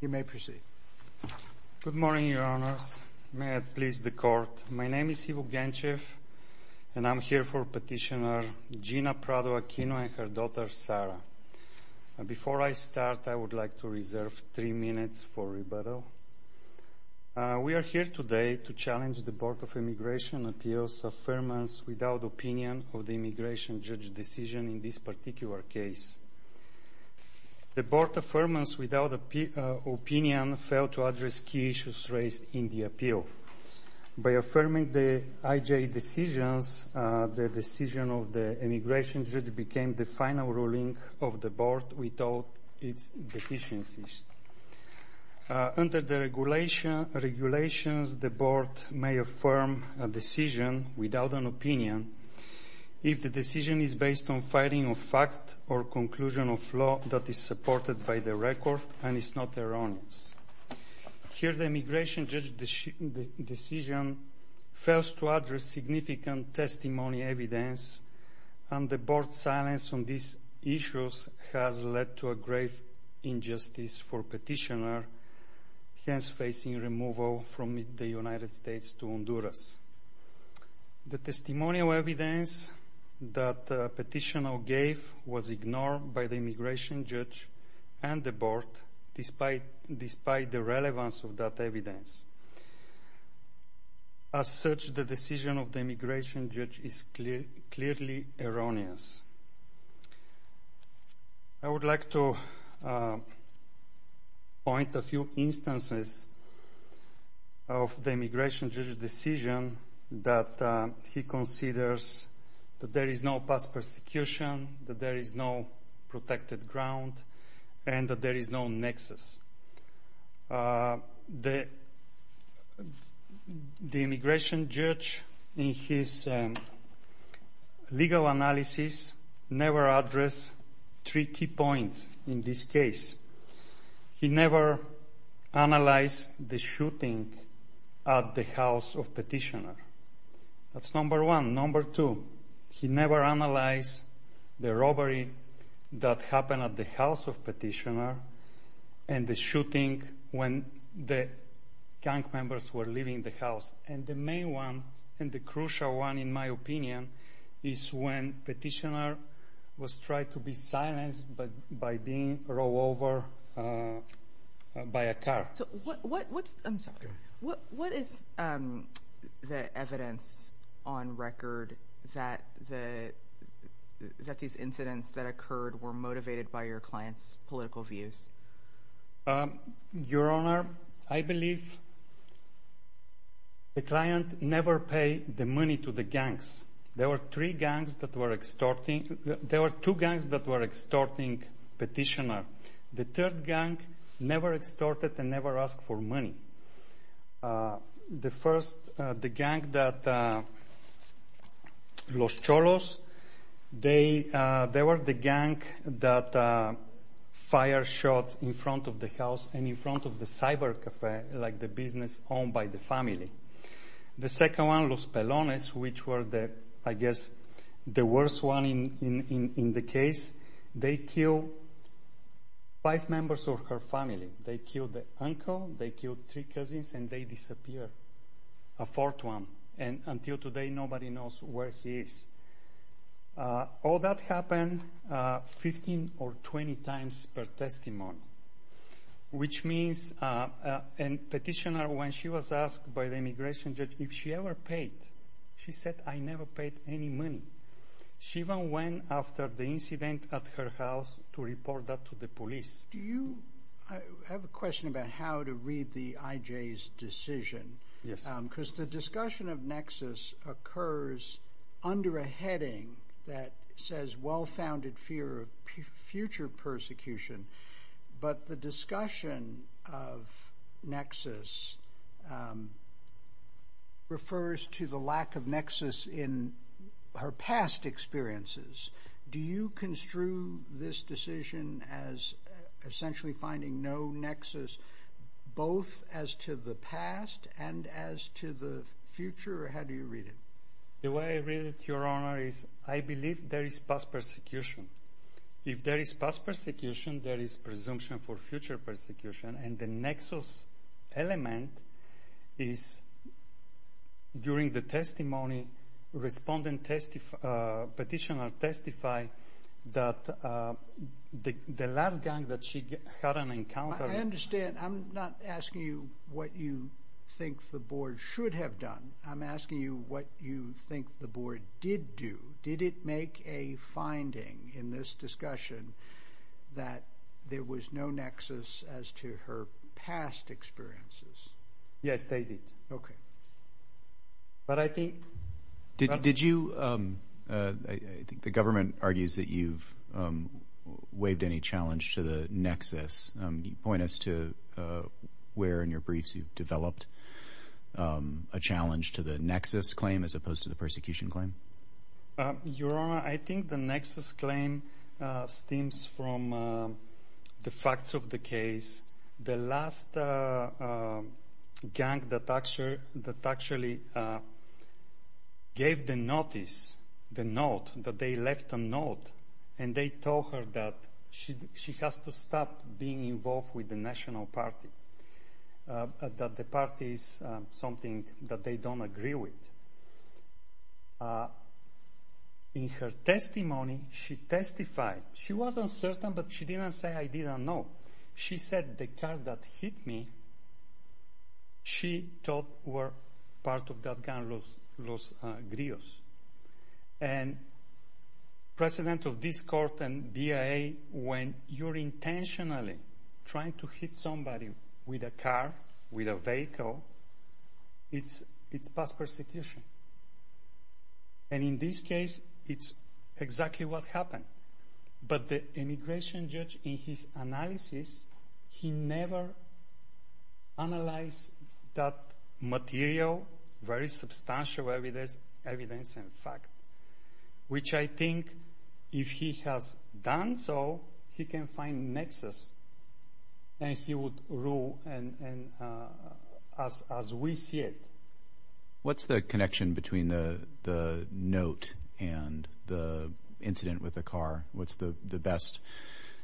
You may proceed. Good morning, Your Honors. May I please the court? My name is Ivo Genchev, and I'm here for Petitioner Gina Prado-Aquino and her daughter, Sarah. Before I start, I would like to reserve three minutes for rebuttal. We are here today to challenge the Board of Immigration Appeals' affirmance without opinion of the immigration judge decision in this particular case. The Board's affirmance without opinion failed to address key issues raised in the appeal. By affirming the IJA decisions, the decision of the immigration judge became the final ruling of the Board without its deficiencies. Under the regulations, the Board may affirm a decision without an opinion if the decision is based on fighting of fact or conclusion of law that is supported by the record and is not erroneous. Here, the immigration judge decision fails to address significant testimony evidence, and the Board's silence on these issues has led to a grave injustice for Petitioner, hence facing removal from the United States to Honduras. The testimonial evidence that Petitioner gave was ignored by the immigration judge and the Board, despite the relevance of that evidence. As such, the decision of the immigration judge is clearly erroneous. The immigration judge decision that he considers that there is no past persecution, that there is no protected ground, and that there is no nexus. The immigration judge, in his legal analysis, never addressed three key points in this case. He never analyzed the shooting at the house of Petitioner. That's number one. Number two, he never analyzed the robbery that happened at the house of Petitioner and the shooting when the gang members were leaving the house. And the main one, and the crucial one, in my opinion, is when Petitioner was tried to be silenced by being rolled over by a car. So what is the evidence on record that these incidents that occurred were motivated by your client's political views? Your Honor, I believe the client never paid the money to the gangs. There were three gangs that were extorting. There were two gangs that were extorting Petitioner. The third gang never extorted and never asked for money. The first, the gang that Los Cholos, they were the gang that fired shots in front of the house and in front of the cyber cafe, like the business owned by the family. The second one, Los Pelones, which were, I guess, the worst one in the case, they killed five members of her family. They killed the uncle, they killed three cousins, and they disappeared. A fourth one. And until today, nobody knows where he is. All that happened 15 or 20 times per testimony, which means Petitioner, when she was asked by the immigration judge if she ever paid, she said, I never paid any money. She even went after the incident at her house to report that to the police. Do you have a question about how to read the IJ's decision? Yes. Because the discussion of Nexus occurs under a heading that says, well-founded fear of future persecution. But the discussion of Nexus refers to the lack of Nexus in her past experiences. Do you construe this decision as essentially finding no Nexus, both as to the past and as to the future? Or how do you read it? The way I read it, Your Honor, is I believe there is past persecution. If there is past persecution, there is presumption for future persecution. And the Nexus element is, during the testimony, respondent Petitioner testified that the last gang that she had an encounter with. I understand. I'm not asking you what you think the board should have done. I'm asking you what you think the board did do. Did it make a finding in this discussion that there was no Nexus as to her past experiences? Yes, they did. OK. But I think. Did you, I think the government argues that you've waived any challenge to the Nexus. Can you point us to where in your briefs you've developed a challenge to the Nexus claim as opposed to the persecution claim? Your Honor, I think the Nexus claim stems from the facts of the case. The last gang that actually gave the notice, the note, that they left a note. And they told her that she has to stop being involved with the National Party, that the party is something that they don't agree with. In her testimony, she testified. She wasn't certain, but she didn't say I didn't know. She said the gang that hit me, she thought were part of that gang, Los Grios. And president of this court and BIA, when you're intentionally trying to hit somebody with a car, with a vehicle, it's past persecution. And in this case, it's exactly what happened. But the immigration judge, in his analysis, he never analyzed that material, very substantial evidence and fact, which I think if he has done so, he can find Nexus. And he would rule as we see it. What's the connection between the note and the incident with the car? What's the best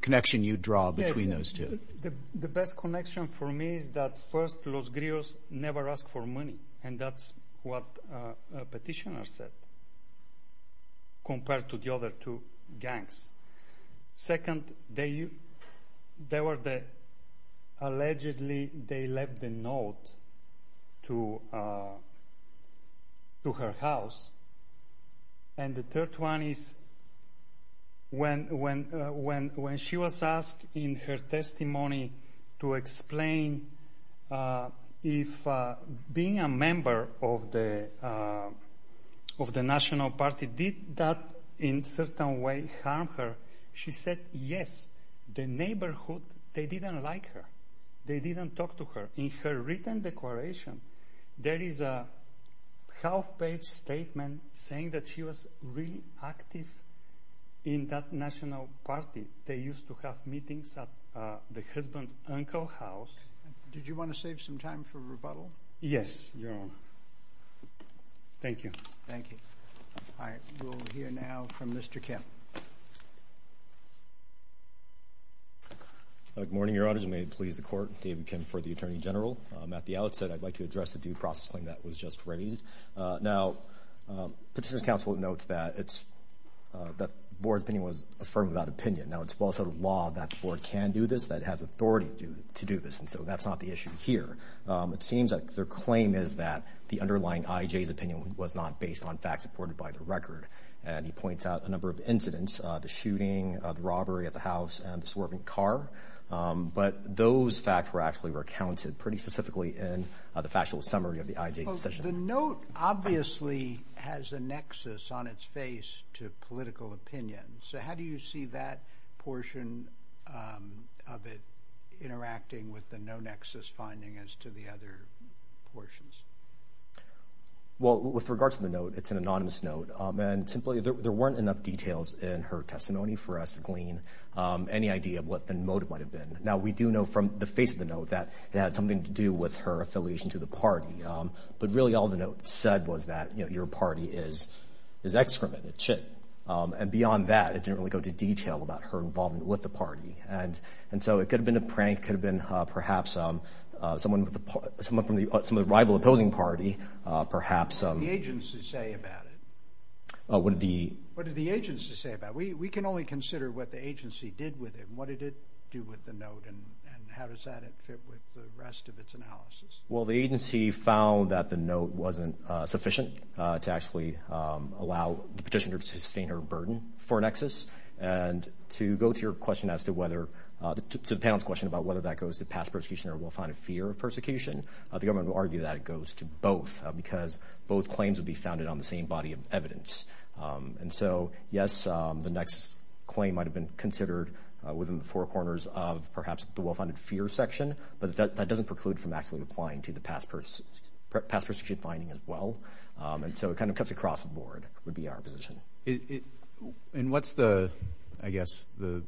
connection you draw between those two? The best connection for me is that first, Los Grios never asked for money. And that's what a petitioner said, compared to the other two gangs. Second, allegedly, they left the note to her house. And the third one is, when she was asked in her testimony to explain if being a member of the National Party did that, in a certain way, harm her, she said, yes. The neighborhood, they didn't like her. They didn't talk to her. In her written declaration, there is a half-page statement saying that she was really active in that National Party. They used to have meetings at the husband's uncle house. Did you want to save some time for rebuttal? Yes, Your Honor. Thank you. Thank you. All right. We'll hear now from Mr. Kemp. Good morning, Your Honor. As you may please the Court, David Kemp for the Attorney General. At the outset, I'd like to address the due process claim that was just raised. Now, Petitioner's counsel notes that the board's opinion was affirmed without opinion. Now, it's well set of law that the board can do this, that it has authority to do this. And so that's not the issue here. It seems that their claim is that the underlying IJ's opinion was not based on facts reported by the record. And he points out a number of incidents, the shooting, the robbery at the house, and the swerving car. But those facts were actually recounted pretty specifically in the factual summary of the IJ's decision. The note obviously has a nexus on its face to political opinion. So how do you see that portion of it interacting with the no-nexus finding as to the other portions? Well, with regard to the note, it's an anonymous note. And simply, there weren't enough details in her testimony for us to glean any idea of what the motive might have been. Now, we do know from the face of the note that it had something to do with her affiliation to the party. But really, all the note said was that, you know, your party is excrement and shit. And beyond that, it didn't really go into detail about her involvement with the party. And so it could have been a prank, could have been perhaps someone from the rival opposing party, perhaps. What did the agency say about it? What did the agency say about it? We can only consider what the agency did with it. What did it do with the note, and how does that fit with the rest of its analysis? Well, the agency found that the note wasn't sufficient to actually allow the petitioner to sustain her burden for a nexus. And to go to your question as to whether, to the panel's question about whether that goes to past persecution or will find a fear of persecution, the government will argue that it goes to both because both claims would be founded on the same body of evidence. And so, yes, the nexus claim might have been considered within the four corners of perhaps the well-founded fear section. But that doesn't preclude from actually applying to the past persecution finding as well. And so it kind of cuts across the board, would be our position. And what's the, I guess, the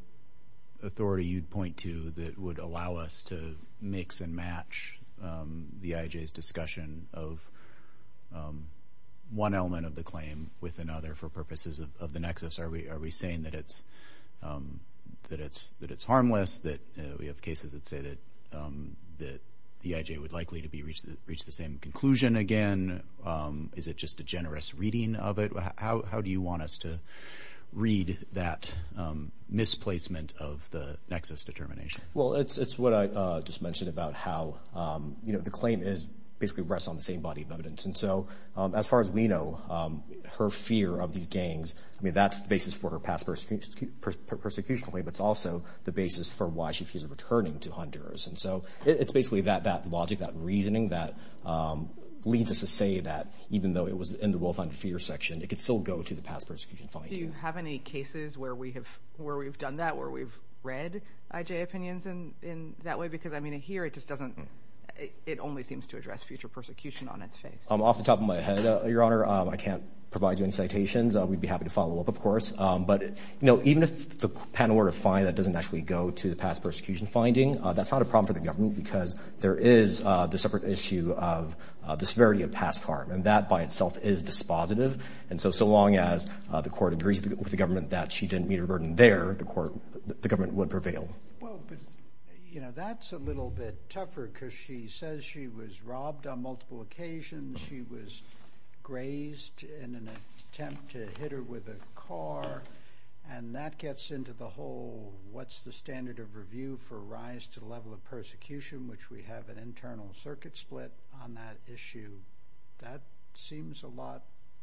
authority you'd point to that would allow us to mix and match the IJ's discussion of one element of the claim with another for purposes of the nexus? Are we saying that it's harmless, that we have cases that say that the IJ would likely to reach the same conclusion again? Is it just a generous reading of it? How do you want us to read that misplacement of the nexus determination? Well, it's what I just mentioned about how, you know, the claim is basically rests on the same body of evidence. And so as far as we know, her fear of these gangs, I mean, that's the basis for her past persecution claim. It's also the basis for why she feels returning to Honduras. And so it's basically that logic, that reasoning that leads us to say that even though it was in the well-founded fear section, it could still go to the past persecution finding. Do you have any cases where we have done that, or we've read IJ opinions in that way? Because I mean, here it just doesn't, it only seems to address future persecution on its face. Off the top of my head, Your Honor, I can't provide you any citations. We'd be happy to follow up, of course. But, you know, even if the patent order fine that doesn't actually go to the past persecution finding, that's not a problem for the government because there is the separate issue of the severity of past harm. And that by itself is dispositive. And so, so long as the court agrees with the government that she didn't meet her burden there, the government would prevail. Well, but, you know, that's a little bit tougher because she says she was robbed on multiple occasions. She was grazed in an attempt to hit her with a car. And that gets into the whole, what's the standard of review for rise to the level of persecution, which we have an internal circuit split on that issue. That seems a lot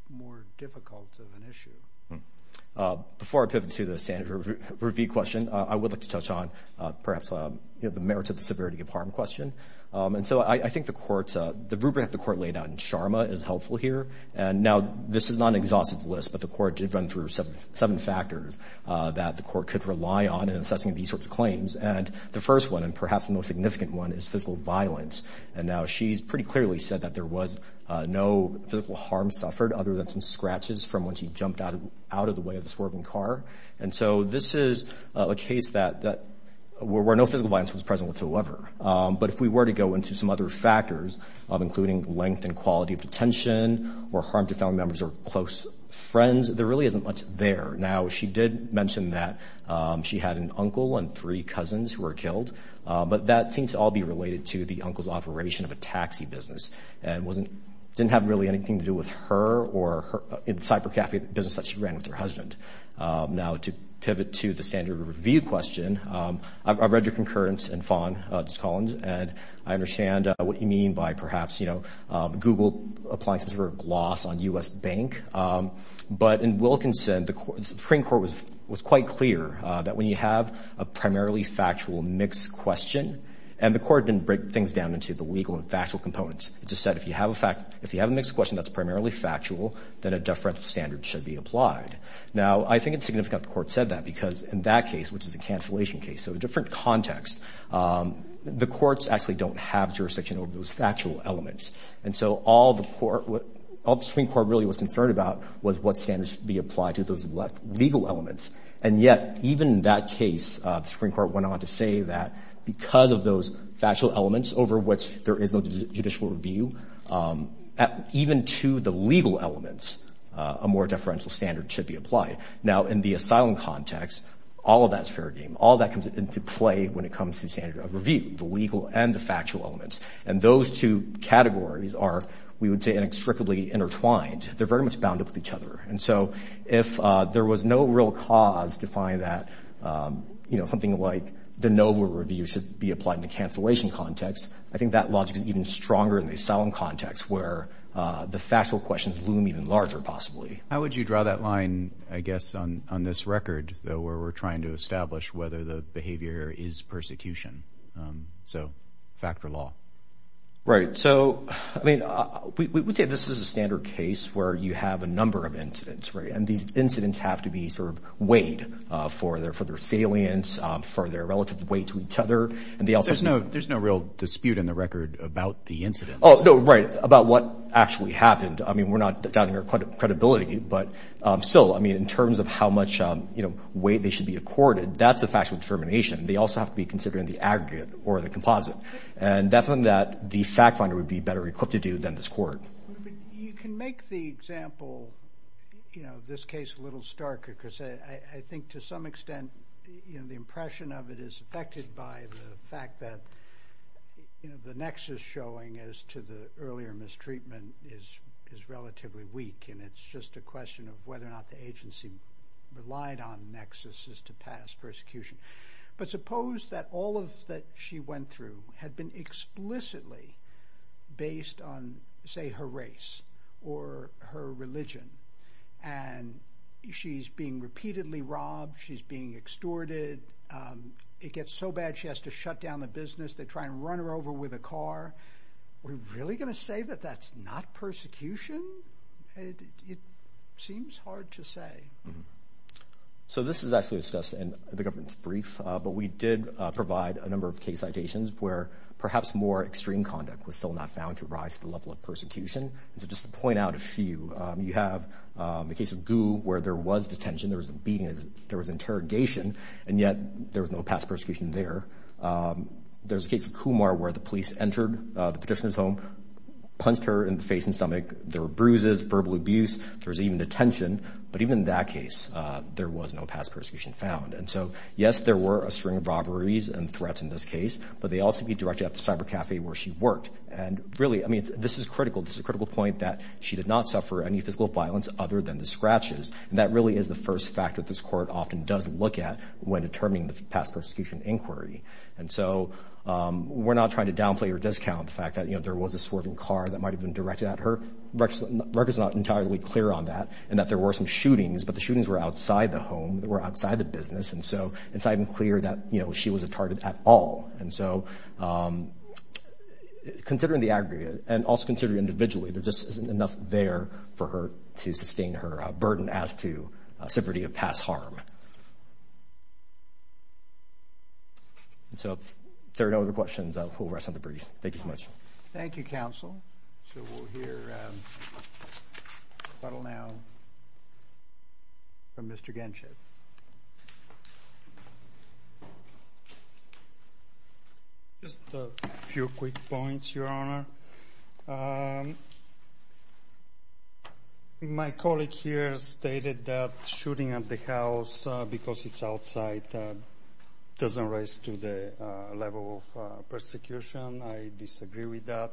more difficult of an issue. Before I pivot to the standard of review question, I would like to touch on perhaps, you know, the merits of the severity of harm question. And so I think the court's, the rubric the court laid out in Sharma is helpful here. And now this is not an exhaustive list, but the court did run through seven factors that the court could rely on in assessing these sorts of claims. And the first one, and perhaps the most significant one is physical violence. And now she's pretty clearly said that there was no physical harm suffered other than some scratches from when she jumped out of the way of the swerving car. And so this is a case that, where no physical violence was present with whoever. But if we were to go into some other factors of including length and quality of detention or harm to family members or close friends, there really isn't much there. Now, she did mention that she had an uncle and three cousins who were killed, but that seems to all be related to the uncle's operation of a taxi business. And it didn't have really anything to do with her or in the cyber cafe business that she ran with her husband. Now to pivot to the standard review question, I've read your concurrence in FON, Ms. Collins, and I understand what you mean by perhaps, Google applying some sort of gloss on US Bank. But in Wilkinson, the Supreme Court was quite clear that when you have a primarily factual mixed question, and the court didn't break things down into the legal and factual components. It just said, if you have a mixed question that's primarily factual, then a different standard should be applied. Now, I think it's significant the court said that because in that case, which is a cancellation case, so a different context, the courts actually don't have jurisdiction over those factual elements. And so all the Supreme Court really was concerned about was what standards should be applied to those legal elements. And yet, even in that case, the Supreme Court went on to say that because of those factual elements over which there is no judicial review, even to the legal elements, a more deferential standard should be applied. Now, in the asylum context, all of that's fair game. All that comes into play when it comes to the standard of review, the legal and the factual elements. And those two categories are, we would say, inextricably intertwined. They're very much bound up with each other. And so if there was no real cause to find that, something like the NOVA review should be applied in the cancellation context, I think that logic is even stronger in the asylum context where the factual questions loom even larger, possibly. How would you draw that line, I guess, on this record, though, where we're trying to establish whether the behavior is persecution? So, fact or law? Right, so, I mean, we would say this is a standard case where you have a number of incidents, right? And these incidents have to be sort of weighed for their salience, for their relative weight to each other. And they also- There's no real dispute in the record about the incidents. Oh, no, right, about what actually happened. I mean, we're not doubting our credibility, but still, I mean, in terms of how much weight they should be accorded, that's a factual determination. They also have to be considered in the aggregate or the composite. And that's something that the fact finder would be better equipped to do than this court. You can make the example, you know, this case a little starker, because I think to some extent, you know, the impression of it is affected by the fact that, you know, the nexus showing as to the earlier mistreatment is relatively weak, and it's just a question of whether or not the agency relied on nexuses to pass persecution. But suppose that all of that she went through had been explicitly based on, say, her race or her religion, and she's being repeatedly robbed, she's being extorted. It gets so bad, she has to shut down the business. They try and run her over with a car. We're really gonna say that that's not persecution? It seems hard to say. So this is actually discussed in the government's brief, but we did provide a number of case citations where perhaps more extreme conduct was still not found to rise to the level of persecution. And so just to point out a few, you have the case of Gu, where there was detention, there was a beating, there was interrogation, and yet there was no past persecution there. There's a case of Kumar where the police entered the petitioner's home, punched her in the face and stomach. There were bruises, verbal abuse, there was even detention. But even in that case, there was no past persecution found. And so, yes, there were a string of robberies and threats in this case, but they all seem to be directed at the cyber cafe where she worked. And really, I mean, this is critical. This is a critical point that she did not suffer any physical violence other than the scratches. And that really is the first fact that this court often does look at when determining the past persecution inquiry. And so we're not trying to downplay or discount the fact that there was a swerving car that might have been directed at her. RECA's not entirely clear on that, and that there were some shootings, but the shootings were outside the home, they were outside the business. And so it's not even clear that she was a target at all. And so considering the aggregate and also considering individually, there just isn't enough there for her to sustain her burden as to severity of past harm. So if there are no other questions, we'll rest on the brief. Thank you so much. Thank you, counsel. So we'll hear a little now from Mr. Genship. Just a few quick points, Your Honor. My colleague here stated that shooting at the house because it's outside doesn't raise to the level of persecution. I disagree with that.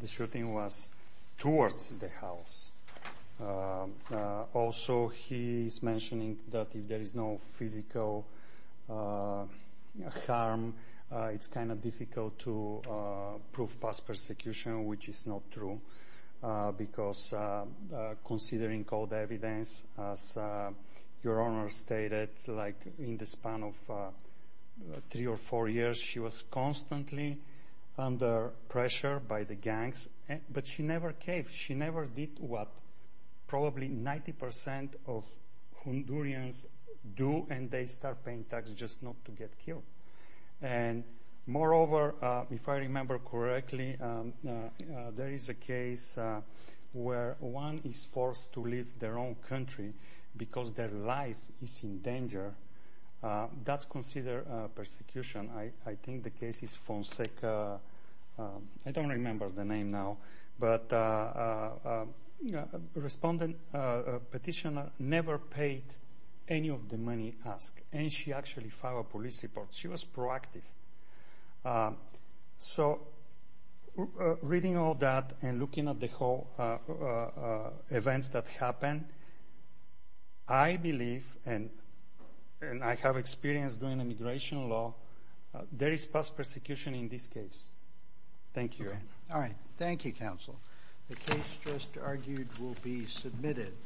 The shooting was towards the house. Also, he's mentioning that if there is no physical harm, it's kind of difficult to prove past persecution, which is not true, because considering all the evidence, as Your Honor stated, like in the span of three or four years, she was constantly under pressure by the gangs, but she never came. She never did what probably 90% of Hondurans do, and they start paying tax just not to get killed. And moreover, if I remember correctly, there is a case where one is forced to leave their own country because their life is in danger. That's considered persecution. I think the case is Fonseca. I don't remember the name now, but a respondent, a petitioner, never paid any of the money asked, and she actually filed a police report. She was proactive. So reading all that and looking at the whole events that happened, I believe, and I have experience doing immigration law, there is past persecution in this case. Thank you, Your Honor. All right, thank you, counsel. The case just argued will be submitted.